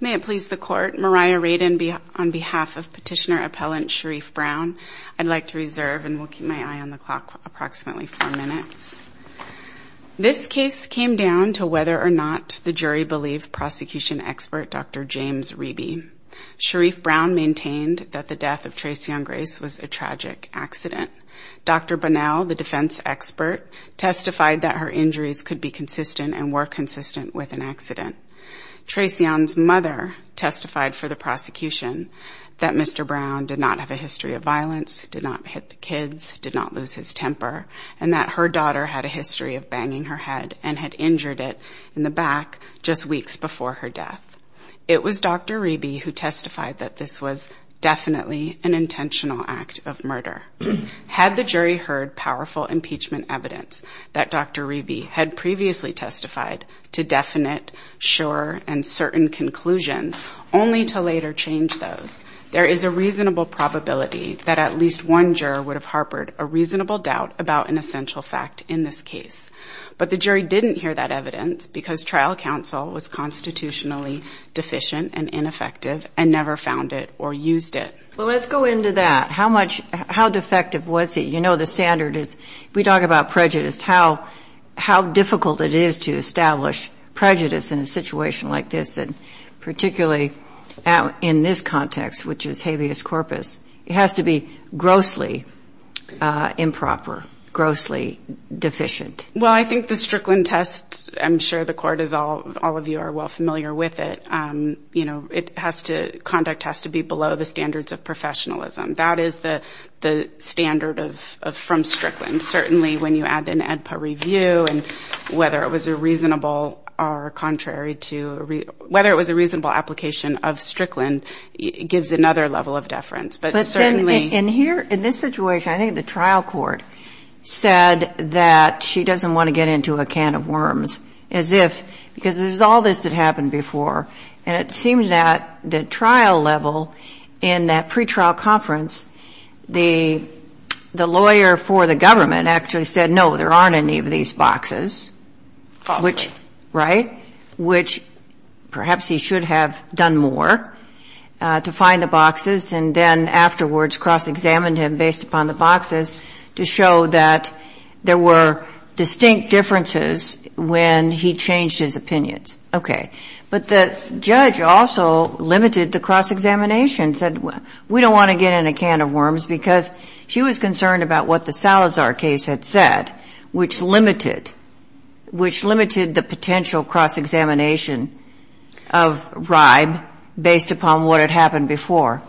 May it please the court, Mariah Radin on behalf of petitioner appellant Sharrieff Brown. I'd like to reserve and we'll keep my eye on the clock approximately four minutes. This case came down to whether or not the jury believed prosecution expert Dr. James Reby. Sharrieff Brown maintained that the death of Tracee Younggrace was a tragic accident. Dr. Bonnell, the judge, said that the death of Tracee Younggrace was a tragic accident. The defense expert testified that her injuries could be consistent and were consistent with an accident. Tracee Young's mother testified for the prosecution that Mr. Brown did not have a history of violence, did not hit the kids, did not lose his temper, and that her daughter had a history of banging her head and had injured it in the back just weeks before her death. It was Dr. Reby who testified that this was definitely an intentional act of murder. Had the jury heard powerful impeachment evidence that Dr. Reby had previously testified to definite, sure, and certain conclusions only to later change those, there is a reasonable probability that at least one juror would have harbored a reasonable doubt about an essential fact in this case. But the jury didn't hear that evidence because trial counsel was constitutionally deficient and ineffective and never found it or used it. Well, let's go into that. How much, how defective was it? You know, the standard is, we talk about prejudice, how difficult it is to establish prejudice in a situation like this, and particularly in this context, which is habeas corpus. It has to be grossly improper, grossly deficient. Well, I think the Strickland test, I'm sure the court is all, all of you are well familiar with it. You know, it has to, conduct has to be below the standards of professionalism. That is the standard of, from Strickland. Certainly when you add an AEDPA review and whether it was a reasonable or contrary to, whether it was a reasonable application of Strickland gives another level of deference. But certainly in here, in this situation, I think the trial court said that she doesn't want to get into a can of worms as if, because there's all this that happened before. And it seems that the trial level in that pretrial conference, the, the lawyer for the government actually said, no, there aren't any of these boxes. Right. Which perhaps he should have done more to find the boxes. And then afterwards, cross-examined him based upon the boxes to show that there were distinct differences when he changed his opinions. Okay. But the judge also limited the cross-examination, said, well, we don't want to get in a can of worms, because she was concerned about what the Salazar case had said, which limited the process of finding the boxes. Which limited the potential cross-examination of R.I.B.E. based upon what had happened before.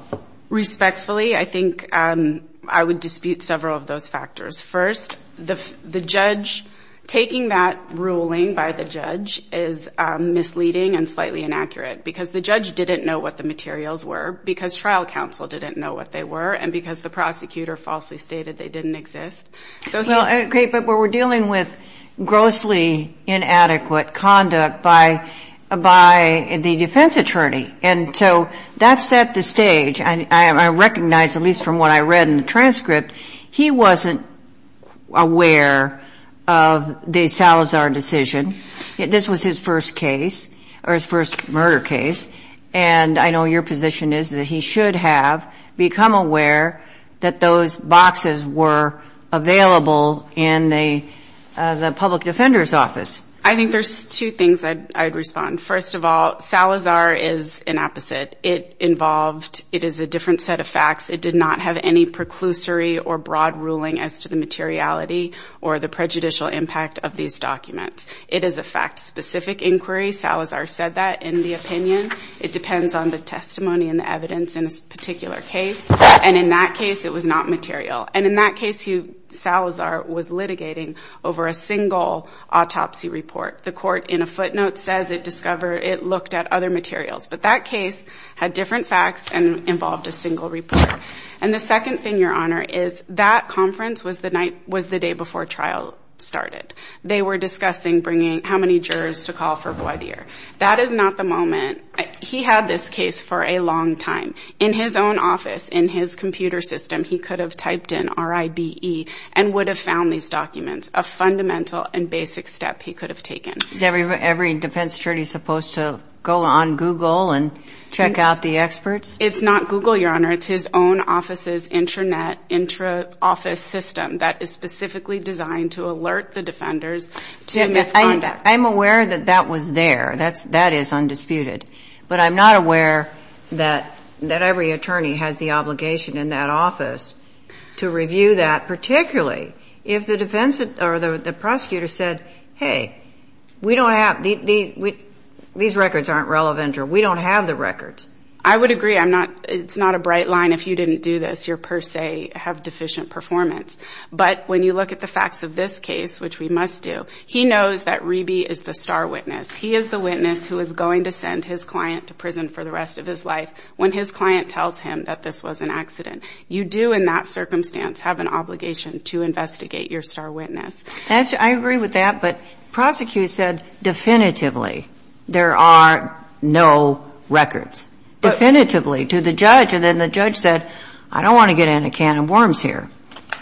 Respectfully, I think I would dispute several of those factors. First, the judge taking that ruling by the judge is misleading and slightly inaccurate, because the judge didn't know what the materials were, because trial counsel didn't know what they were, and because the prosecutor falsely stated they didn't exist. Okay. But we're dealing with grossly inadequate conduct by the defense attorney. And so that set the stage, and I recognize, at least from what I read in the transcript, he wasn't aware of the Salazar decision. This was his first case, or his first murder case, and I know your position is that he should have become aware that those boxes were available in the public defender's office. I think there's two things I'd respond. First of all, Salazar is an opposite. It involved, it is a different set of facts. It did not have any preclusory or broad ruling as to the materiality or the prejudicial impact of these documents. It is a fact-specific inquiry. Salazar said that in the opinion. It depends on the testimony and the evidence in a particular case. And in that case, it was not material. And in that case, Salazar was litigating over a single autopsy report. The court, in a footnote, says it discovered, it looked at other materials. But that case had different facts and involved a single report. And the second thing, Your Honor, is that conference was the night, was the day before trial started. They were discussing bringing, how many jurors to call for a blood year. Is every defense attorney supposed to go on Google and check out the experts? It's not Google, Your Honor. It's his own office's intranet, intra-office system that is specifically designed to alert the defenders to misconduct. I'm aware that that was there. That is undisputed. But I'm not aware that every attorney has the obligation in that office to review that, particularly if the defense or the prosecutor said, hey, we don't have, these records aren't relevant, or we don't have the records. I would agree. It's not a bright line if you didn't do this. You per se have deficient performance. But when you look at the facts of this case, which we must do, he knows that Reby is the star witness. He is the witness who is going to send his client to prison for the rest of his life when his client tells him that this was an accident. You do, in that circumstance, have an obligation to investigate your star witness. I agree with that. But the prosecutor said definitively there are no records. Definitively, to the judge. And then the judge said, I don't want to get in a can of worms here.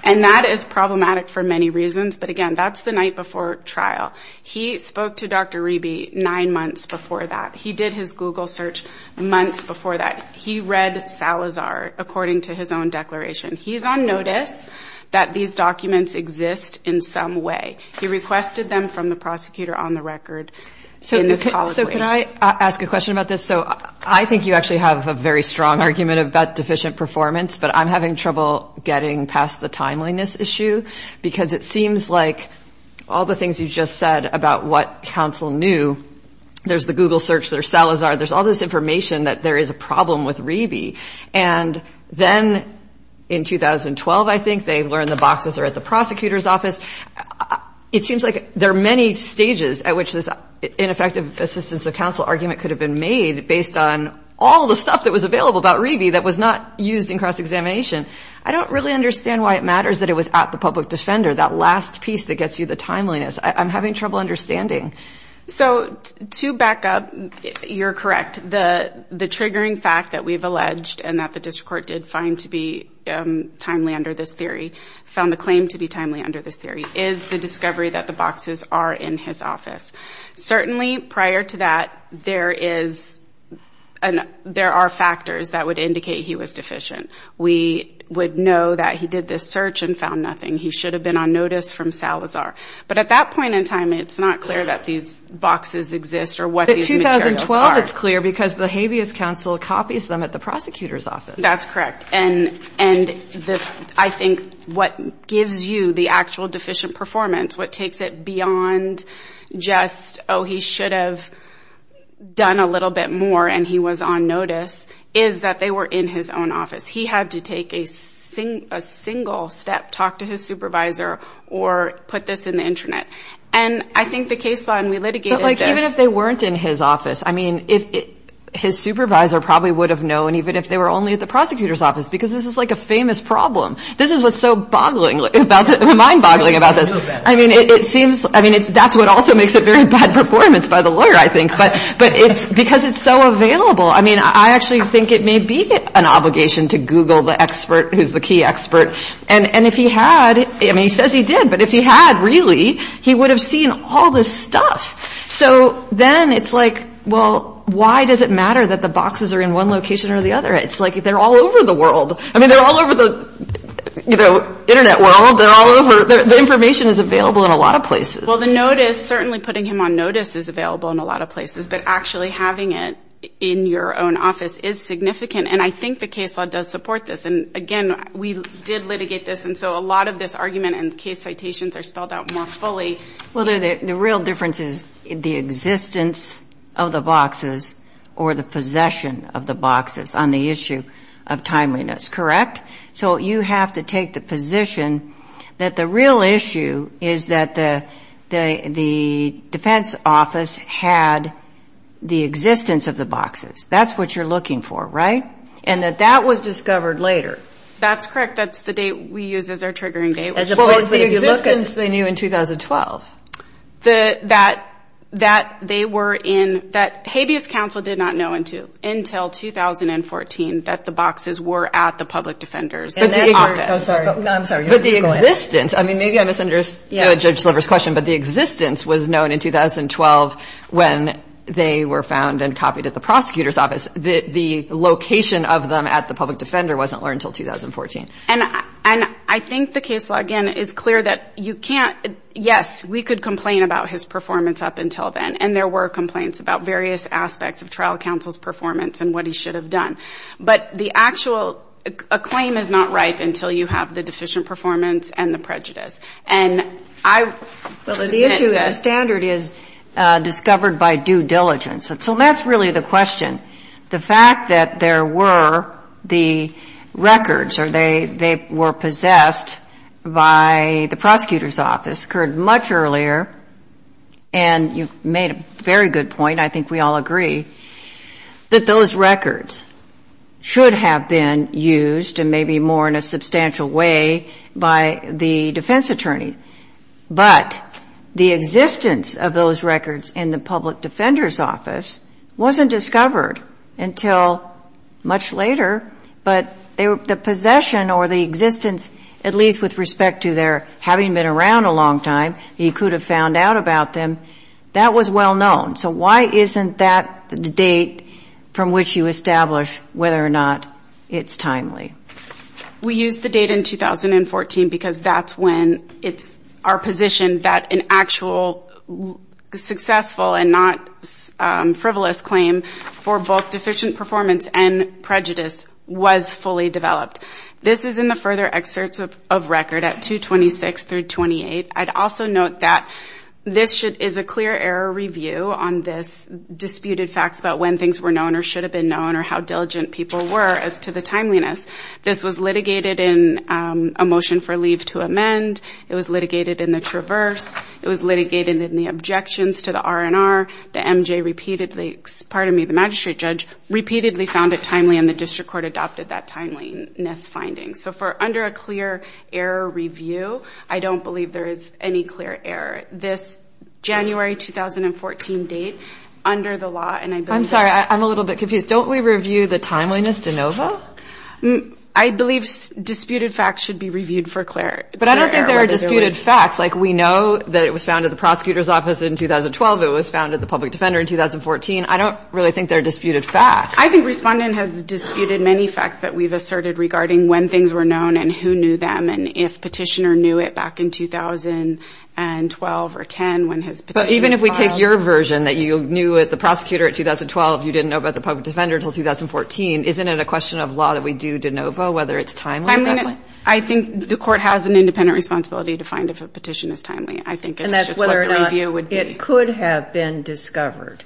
And that is problematic for many reasons. But, again, that's the night before trial. He spoke to Dr. Reby nine months before that. He did his Google search months before that. He read Salazar according to his own declaration. He's on notice that these documents exist in some way. He requested them from the prosecutor on the record in this college case. So can I ask a question about this? So I think you actually have a very strong argument about deficient performance. But I'm having trouble getting past the timeliness issue because it seems like all the things you just said about what counsel knew, there's the Google search, there's Salazar, there's all this information that there is a problem with Reby. And then in 2012, I think, they learned the boxes are at the prosecutor's office. It seems like there are many stages at which this ineffective assistance of counsel argument could have been made based on all the stuff that was available about Reby that was not used in cross-examination. I don't really understand why it matters that it was at the public defender, that last piece that gets you the timeliness. I'm having trouble understanding. So to back up, you're correct. The triggering fact that we've alleged and that the district court did find to be timely under this theory, found the claim to be timely under this theory, is the discovery that the boxes are in his office. Certainly, prior to that, there are factors that would indicate he was deficient. We would know that he did this search and found nothing. He should have been on notice from Salazar. But at that point in time, it's not clear that these boxes exist or what these materials are. But 2012, it's clear because the habeas counsel copies them at the prosecutor's office. That's correct. And I think what gives you the actual deficient performance, what takes it beyond just, oh, he should have done a little bit more and he was on notice, is that they were in his own office. He had to take a single step, talk to his supervisor, or put this in the intranet. And I think the case law, and we litigated this. Even if they weren't in his office, I mean, his supervisor probably would have known, even if they were only at the prosecutor's office, because this is like a famous problem. This is what's so mind-boggling about this. I mean, it seems, I mean, that's what also makes it very bad performance by the lawyer, I think. But because it's so available, I mean, I actually think it may be an obligation to Google the expert who's the key expert. And if he had, I mean, he says he did, but if he had, really, he would have seen all this stuff. So then it's like, well, why does it matter that the boxes are in one location or the other? It's like they're all over the world. I mean, they're all over the, you know, Internet world. They're all over. The information is available in a lot of places. Well, the notice, certainly putting him on notice is available in a lot of places. But actually having it in your own office is significant. And I think the case law does support this. And again, we did litigate this. And so a lot of this argument and case citations are spelled out more fully. Well, the real difference is the existence of the boxes or the possession of the boxes on the issue of timeliness, correct? So you have to take the position that the real issue is that the defense office had the existence of the boxes. That's what you're looking for, right? And that that was discovered later. That's correct. That's the date we use as our triggering date. Well, it's the existence they knew in 2012. That they were in, that habeas counsel did not know until 2014 that the boxes were at the public defender's office. I'm sorry. But the existence, I mean, maybe I misunderstood Judge Sliver's question, but the existence was known in 2012 when they were found and copied at the prosecutor's office. The location of them at the public defender wasn't learned until 2014. And I think the case law, again, is clear that you can't, yes, we could complain about his performance up until then. And there were complaints about various aspects of trial counsel's performance and what he should have done. But the actual, a claim is not ripe until you have the deficient performance and the prejudice. And I The standard is discovered by due diligence. So that's really the question. The fact that there were the records or they were possessed by the prosecutor's office occurred much earlier. And you made a very good point. I think we all agree that those records should have been used and maybe more in a substantial way by the defense attorney. But the existence of those records in the public defender's office wasn't discovered until much later. But the possession or the existence, at least with respect to their having been around a long time, he could have found out about them. That was well known. So why isn't that the date from which you establish whether or not it's timely? We used the date in 2014 because that's when it's our position that an actual successful and not frivolous claim for both deficient performance and prejudice was fully developed. This is in the further excerpts of record at 226 through 28. I'd also note that this is a clear error review on this disputed facts about when things were known or should have been known or how diligent people were as to the timeliness. This was litigated in a motion for leave to amend. It was litigated in the traverse. It was litigated in the objections to the R&R. The MJ repeatedly, pardon me, the magistrate judge repeatedly found it timely and the district court adopted that timeliness finding. So for under a clear error review, I don't believe there is any clear error. This January 2014 date under the law. And I'm sorry, I'm a little bit confused. Don't we review the timeliness de novo? I believe disputed facts should be reviewed for clarity. But I don't think there are disputed facts like we know that it was found at the prosecutor's office in 2012. It was found at the public defender in 2014. I don't really think there are disputed facts. I think respondent has disputed many facts that we've asserted regarding when things were known and who knew them and if petitioner knew it back in 2012 or 10 when his petition was filed. But even if we take your version that you knew the prosecutor in 2012, you didn't know about the public defender until 2014, isn't it a question of law that we do de novo whether it's timely? I think the court has an independent responsibility to find if a petition is timely. I think it's just what the review would be. And that's whether or not it could have been discovered,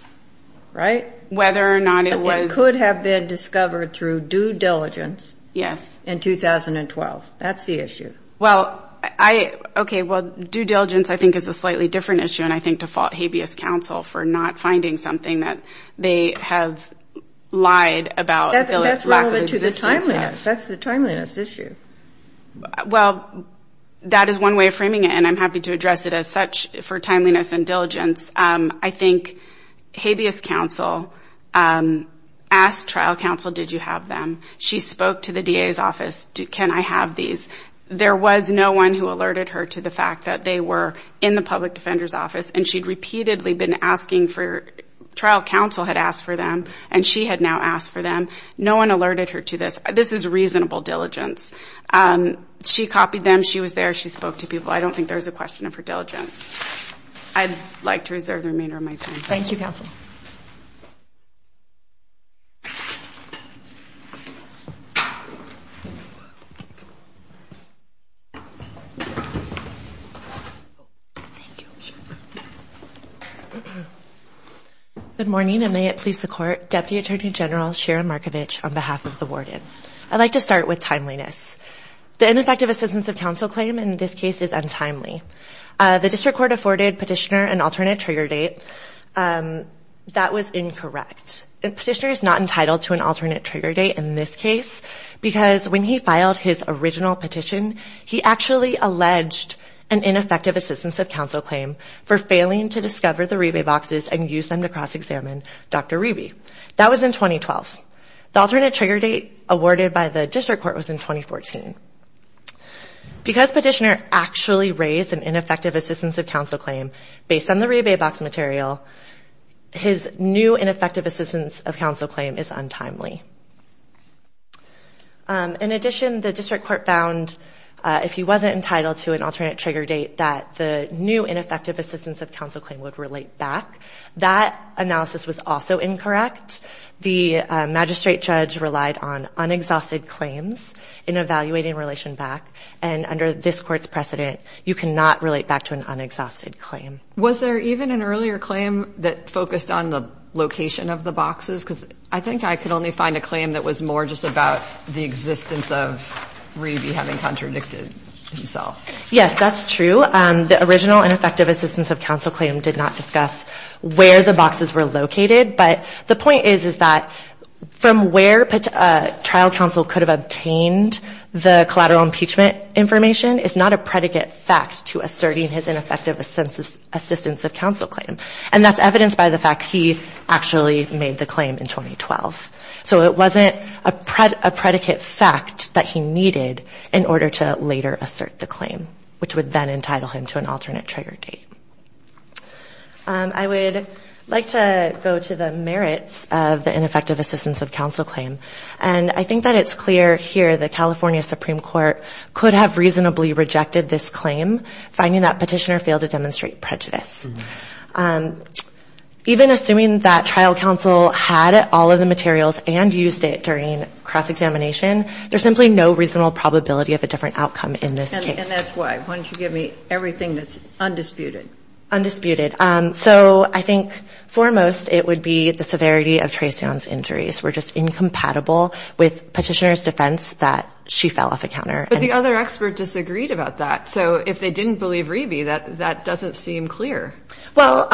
right? Whether or not it was. It could have been discovered through due diligence. Yes. In 2012. That's the issue. Well, I, okay, well, due diligence I think is a slightly different issue and I think to fault habeas counsel for not finding something that they have lied about the lack of existence of. That's relevant to the timeliness. That's the timeliness issue. Well, that is one way of framing it and I'm happy to address it as such for timeliness and diligence. I think habeas counsel asked trial counsel, did you have them? She spoke to the DA's office. Can I have these? There was no one who alerted her to the fact that they were in the public defender's office and she'd repeatedly been asking for, trial counsel had asked for them and she had now asked for them. No one alerted her to this. This is reasonable diligence. She copied them. She was there. She spoke to people. I don't think there's a question of her diligence. I'd like to reserve the remainder of my time. Thank you, counsel. Good morning and may it please the Court. Deputy Attorney General Sharon Markovich on behalf of the warden. I'd like to start with timeliness. The ineffective assistance of counsel claim in this case is untimely. The district court afforded petitioner an alternate trigger date. That was incorrect. A petitioner is not entitled to an alternate trigger date in this case because when he filed his original petition, he actually alleged an ineffective assistance of counsel claim for failing to discover the rebate boxes and use them to cross-examine Dr. Reby. That was in 2012. The alternate trigger date awarded by the district court was in 2014. Because petitioner actually raised an ineffective assistance of counsel claim based on the rebate box material, his new ineffective assistance of counsel claim is untimely. In addition, the district court found if he wasn't entitled to an alternate trigger date, that the new ineffective assistance of counsel claim would relate back. That analysis was also incorrect. The magistrate judge relied on unexhausted claims in evaluating relation back. And under this Court's precedent, you cannot relate back to an unexhausted claim. Was there even an earlier claim that focused on the location of the boxes? Because I think I could only find a claim that was more just about the existence of Reby having contradicted himself. Yes, that's true. The original ineffective assistance of counsel claim did not discuss where the boxes were located. But the point is, is that from where trial counsel could have obtained the collateral impeachment information is not a predicate fact to asserting his ineffective assistance of counsel claim. And that's evidenced by the fact he actually made the claim in 2012. So it wasn't a predicate fact that he needed in order to later assert the claim, which would then entitle him to an alternate trigger date. I would like to go to the merits of the ineffective assistance of counsel claim. And I think that it's clear here the California Supreme Court could have reasonably rejected this claim, finding that Petitioner failed to demonstrate prejudice. Even assuming that trial counsel had all of the materials and used it during cross-examination, there's simply no reasonable probability of a different outcome in this case. And that's why. Why don't you give me everything that's undisputed. Undisputed. So I think foremost it would be the severity of Treseon's injuries were just incompatible with Petitioner's defense that she fell off a counter. But the other expert disagreed about that. So if they didn't believe Reby, that doesn't seem clear. Well,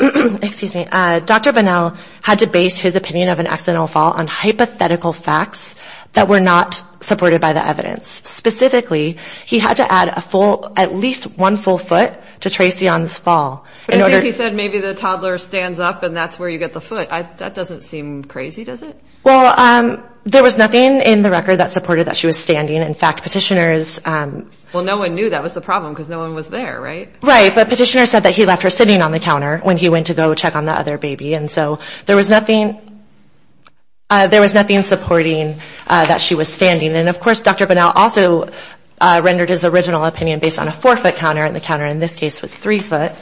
excuse me, Dr. Bunnell had to base his opinion of an accidental fall on hypothetical facts that were not supported by the evidence. Specifically, he had to add at least one full foot to Treseon's fall. But I think he said maybe the toddler stands up and that's where you get the foot. That doesn't seem crazy, does it? Well, there was nothing in the record that supported that she was standing. In fact, Petitioner's — Well, no one knew that was the problem because no one was there, right? Right. But Petitioner said that he left her sitting on the counter when he went to go check on the other baby. And so there was nothing — there was nothing supporting that she was standing. And, of course, Dr. Bunnell also rendered his original opinion based on a four-foot counter, and the counter in this case was three-foot.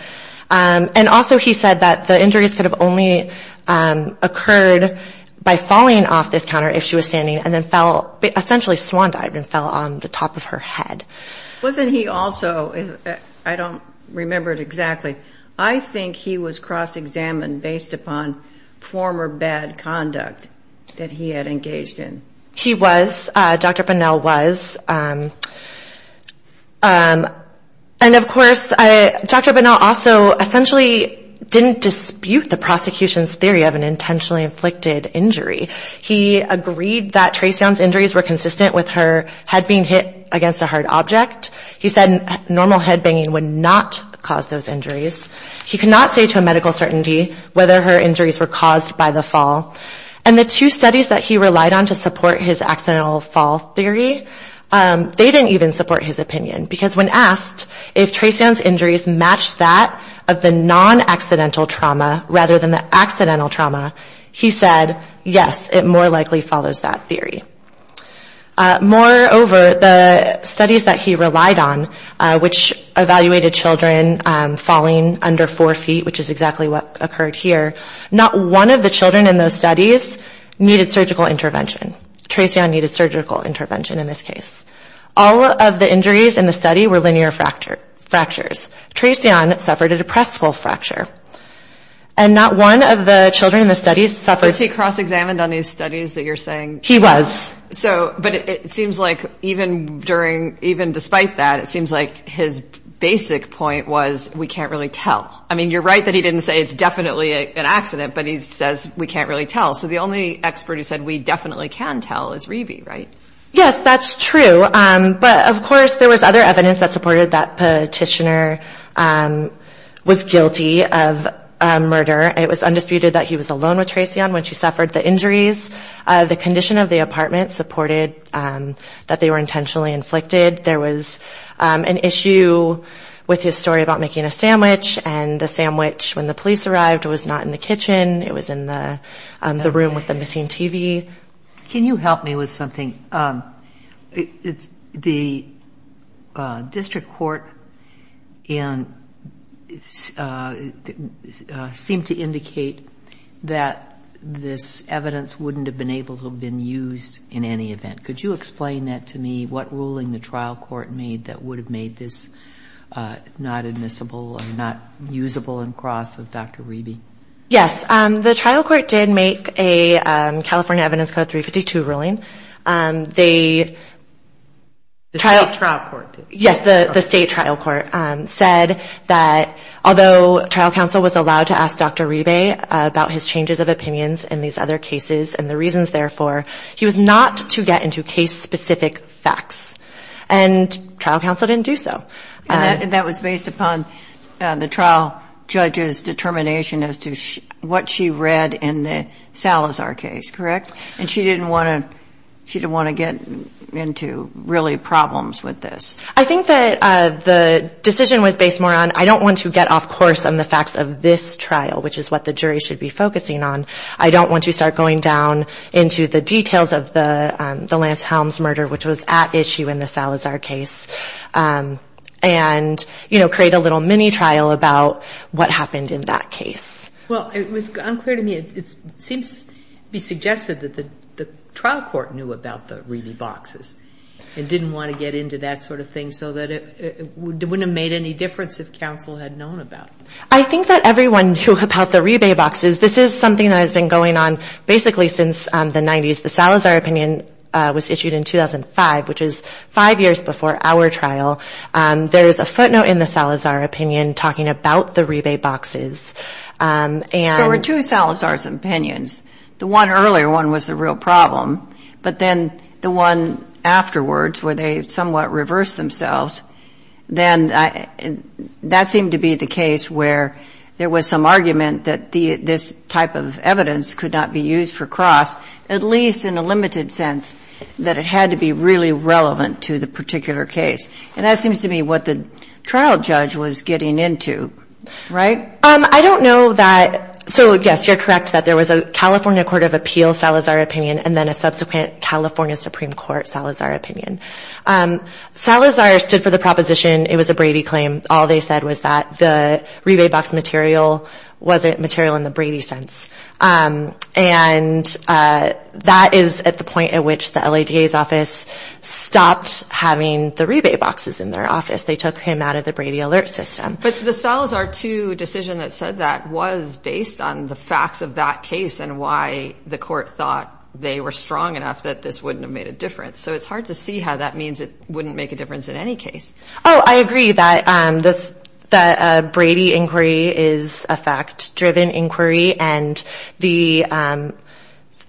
And also he said that the injuries could have only occurred by falling off this counter if she was standing and then fell — essentially swan-dived and fell on the top of her head. Wasn't he also — I don't remember it exactly. I think he was cross-examined based upon former bad conduct that he had engaged in. He was. Dr. Bunnell was. And, of course, Dr. Bunnell also essentially didn't dispute the prosecution's theory of an intentionally inflicted injury. He agreed that Traceon's injuries were consistent with her head being hit against a hard object. He said normal headbanging would not cause those injuries. He could not say to a medical certainty whether her injuries were caused by the fall. And the two studies that he relied on to support his accidental fall theory, they didn't even support his opinion, because when asked if Traceon's injuries matched that of the non-accidental trauma rather than the accidental trauma, he said, yes, it more likely follows that theory. Moreover, the studies that he relied on, which evaluated children falling under four feet, which is exactly what occurred here, not one of the children in those studies needed surgical intervention. Traceon needed surgical intervention in this case. All of the injuries in the study were linear fractures. Traceon suffered a depressible fracture. And not one of the children in the studies suffered — Was he cross-examined on these studies that you're saying? He was. But it seems like even despite that, it seems like his basic point was we can't really tell. I mean, you're right that he didn't say it's definitely an accident, but he says we can't really tell. So the only expert who said we definitely can tell is Revy, right? Yes, that's true. But, of course, there was other evidence that supported that Petitioner was guilty of murder. It was undisputed that he was alone with Traceon when she suffered the injuries. The condition of the apartment supported that they were intentionally inflicted. There was an issue with his story about making a sandwich, and the sandwich, when the police arrived, was not in the kitchen. It was in the room with the missing TV. Can you help me with something? Could you explain that to me, what ruling the trial court made that would have made this not admissible or not usable in cross of Dr. Revy? Yes, the trial court did make a California Evidence Code 352 ruling. The state trial court did? Yes, the state trial court said that although trial counsel was allowed to ask Dr. Revy about his changes of opinions in these other cases and the reasons therefore, he was not to get into case-specific facts. And trial counsel didn't do so. And that was based upon the trial judge's determination as to what she read in the Salazar case, correct? And she didn't want to get into, really, problems with this. I think that the decision was based more on, I don't want to get off course on the facts of this trial, which is what the jury should be focusing on. I don't want to start going down into the details of the Lance Helms murder, which was at issue in the Salazar case. And, you know, create a little mini-trial about what happened in that case. Well, it was unclear to me, it seems to be suggested that the trial court knew about the Revy boxes and didn't want to get into that sort of thing so that it wouldn't have made any difference if counsel had known about it. I think that everyone knew about the Revy boxes. This is something that has been going on basically since the 90s. The Salazar opinion was issued in 2005, which is five years before our trial. There is a footnote in the Salazar opinion talking about the Revy boxes. There were two Salazar's opinions. The one earlier one was the real problem. But then the one afterwards, where they somewhat reversed themselves, then that seemed to be the case where there was some argument that this type of evidence could not be used for cross, at least in a limited sense that it had to be really relevant to the particular case. And that seems to be what the trial judge was getting into, right? I don't know that. So, yes, you're correct that there was a California Court of Appeals Salazar opinion and then a subsequent California Supreme Court Salazar opinion. Salazar stood for the proposition it was a Brady claim. All they said was that the Revy box material wasn't material in the Brady sense. And that is at the point at which the LADA's office stopped having the Revy boxes in their office. They took him out of the Brady alert system. But the Salazar 2 decision that said that was based on the facts of that case and why the court thought they were strong enough that this wouldn't have made a difference. So it's hard to see how that means it wouldn't make a difference in any case. Oh, I agree that the Brady inquiry is a fact-driven inquiry. And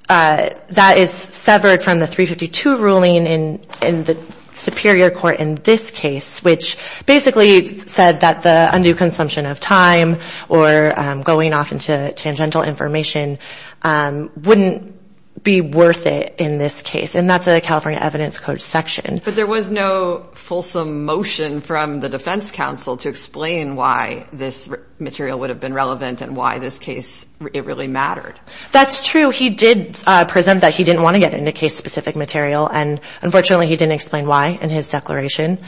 that is severed from the 352 ruling in the Superior Court in this case, which basically said that the undue consumption of time or going off into tangential information wouldn't be worth it in this case. And that's a California Evidence Code section. But there was no fulsome motion from the defense counsel to explain why this material would have been relevant and why this case, it really mattered. That's true. He did present that he didn't want to get into case-specific material and unfortunately he didn't explain why in his declaration.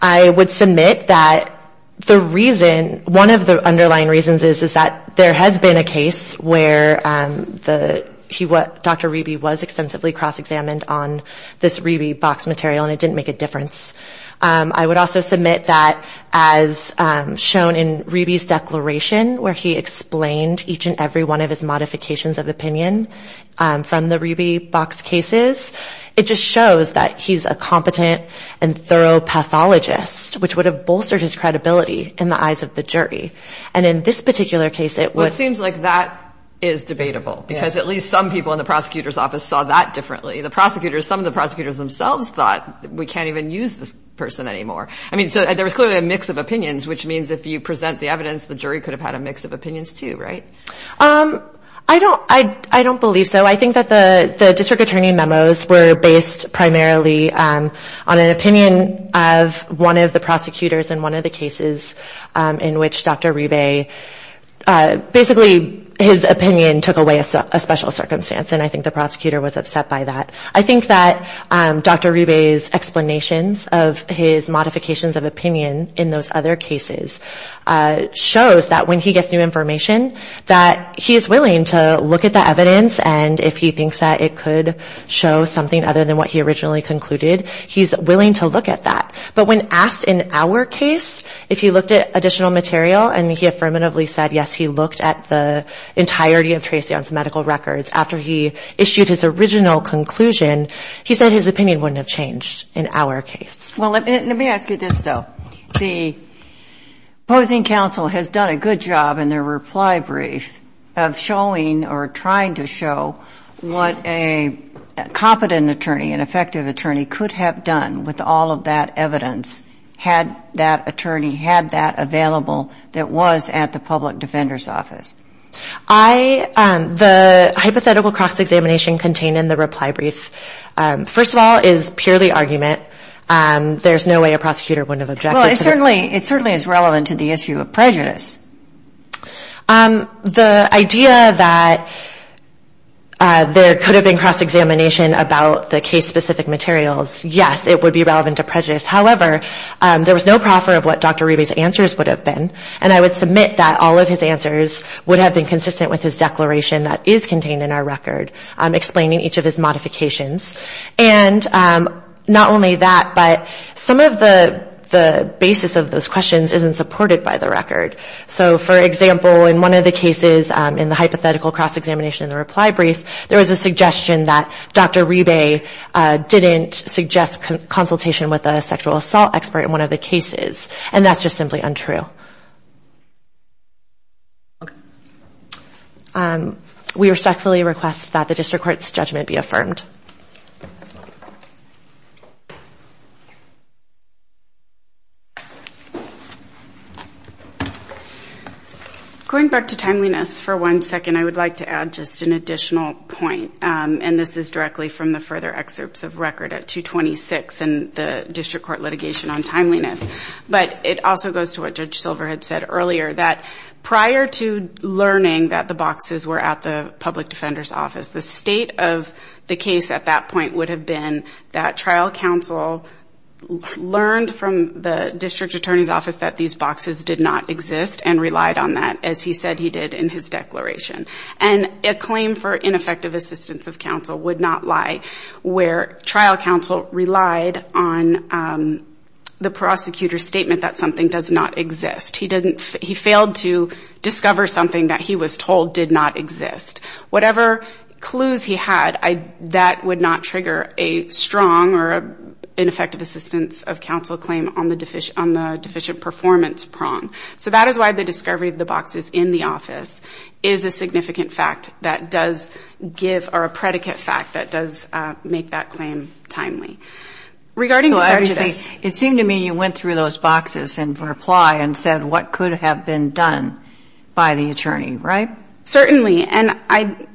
I would submit that the reason, one of the underlying reasons is that there has been a case where Dr. Riebe was extensively cross-examined on this Riebe box material and it didn't make a difference. I would also submit that as shown in Riebe's declaration where he explained each and every one of his modifications of opinion from the Riebe box cases, it just shows that he's a competent and thorough pathologist, which would have bolstered his credibility in the eyes of the jury. And in this particular case, it would... Well, it seems like that is debatable. Because at least some people in the prosecutor's office saw that differently. The prosecutors, some of the prosecutors themselves thought we can't even use this person anymore. I mean, so there was clearly a mix of opinions, which means if you present the evidence, the jury could have had a mix of opinions too, right? I don't believe so. I think that the district attorney memos were based primarily on an opinion of one of the prosecutors in one of the cases in which Dr. Riebe... Basically, his opinion took away a special circumstance and I think the prosecutor was upset by that. I think that Dr. Riebe's explanations of his modifications of opinion in those other cases shows that when he gets new information, that he is willing to look at the evidence and if he thinks that it could show something other than what he originally concluded, he's willing to look at that. But when asked in our case if he looked at additional material and he affirmatively said yes, he looked at the entirety of Tracy on some medical records after he issued his original conclusion, he said his opinion wouldn't have changed in our case. Well, let me ask you this, though. The opposing counsel has done a good job in their reply brief of showing or trying to show what a competent attorney, an effective attorney could have done with all of that evidence had that attorney had that available that was at the public defender's office. The hypothetical cross-examination contained in the reply brief, first of all, is purely argument. There's no way a prosecutor wouldn't have objected. Well, it certainly is relevant to the issue of prejudice. The idea that there could have been cross-examination about the case-specific materials, yes, it would be relevant to prejudice. However, there was no proffer of what Dr. Riebe's answers would have been and I would submit that all of his answers would have been consistent with his declaration that is contained in our record explaining each of his modifications. And not only that, but some of the basis of those questions isn't supported by the record. So, for example, in one of the cases in the hypothetical cross-examination in the reply brief, there was a suggestion that Dr. Riebe didn't suggest consultation with a sexual assault expert in one of the cases and that's just simply untrue. We respectfully request that the district court's judgment be affirmed. Going back to timeliness for one second, I would like to add just an additional point and this is directly from the further excerpts of record at 226 and the district court litigation on timeliness. But it also goes to what Judge Silver had said earlier that prior to learning that the boxes were at the public defender's office, the state of the case at that point would have been that trial counsel learned from the district attorney's office that these boxes did not exist and relied on that as he said he did in his declaration. And a claim for ineffective assistance of counsel would not lie where trial counsel relied on the prosecutor's statement that something does not exist. He failed to discover something that he was told did not exist. Whatever clues he had, that would not trigger a strong or ineffective assistance of counsel claim on the deficient performance prong. So that is why the discovery of the boxes in the office is a significant fact that does give or a predicate fact that does make that claim timely. It seemed to me you went through those boxes in reply and said what could have been done by the attorney, right? Certainly. And I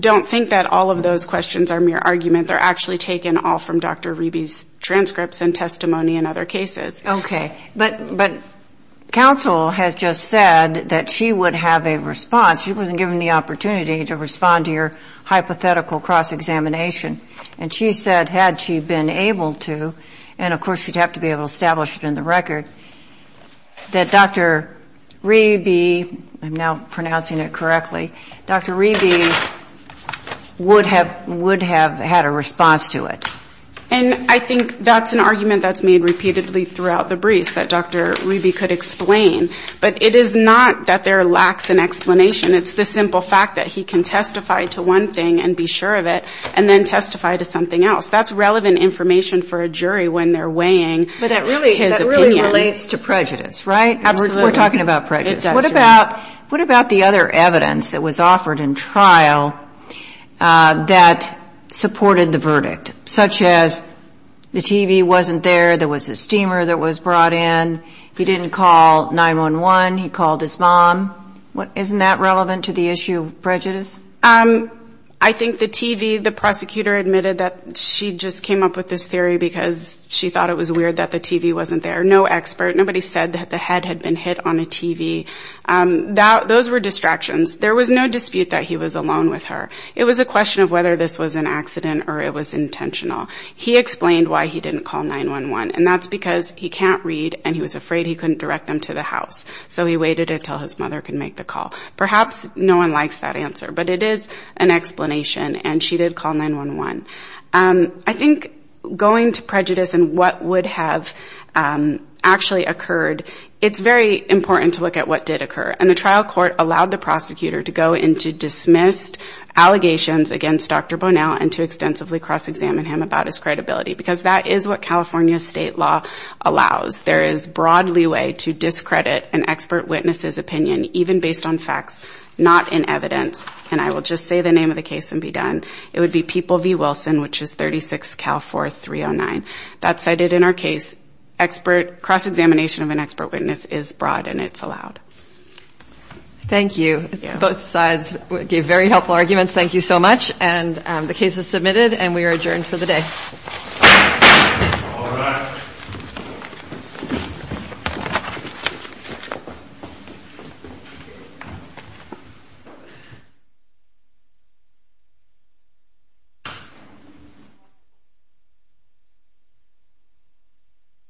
don't think that all of those questions are mere argument. They're actually taken all from Dr. Reby's transcripts and testimony and other cases. Okay. But counsel has just said that she would have a response. She wasn't given the opportunity to respond to your hypothetical cross-examination. And she said had she been able to, and of course you'd have to be able to establish it in the record, that Dr. Reby, I'm now pronouncing it correctly, Dr. Reby would have had a response to it. And I think that's an argument that's made repeatedly throughout the briefs that Dr. Reby could explain. But it is not that there lacks an explanation. It's the simple fact that he can testify to one thing and be sure of it and then testify to something else. That's relevant information for a jury when they're weighing his opinion. But that really relates to prejudice, right? We're talking about prejudice. What about the other evidence that was offered in trial that supported the verdict, such as the TV wasn't there, there was a steamer that was brought in, he didn't call 911, he called his mom. Isn't that relevant to the issue of prejudice? I think the TV, the prosecutor admitted that she just came up with this theory because she thought it was weird that the TV wasn't there. No expert, nobody said that the head had been hit on a TV. Those were distractions. There was no dispute that he was alone with her. It was a question of whether this was an accident or it was intentional. He explained why he didn't call 911, and that's because he can't read and he was afraid he couldn't direct them to the house. So he waited until his mother could make the call. Perhaps no one likes that answer, but it is an explanation and she did call 911. I think going to prejudice and what would have actually occurred, it's very important to look at what did occur. And the trial court allowed the prosecutor to go into dismissed allegations against Dr. Bonnell and to extensively cross-examine him about his credibility, because that is what California state law allows. There is broad leeway to discredit an expert witness's opinion, even based on facts, not in evidence. And I will just say the name of the case and be done. It would be People v. Wilson, which is 36-Cal-4-309. That's cited in our case. Cross-examination of an expert witness is broad and it's allowed. Thank you. Both sides gave very helpful arguments. Thank you so much. And the case is submitted and we are adjourned for the day. All right.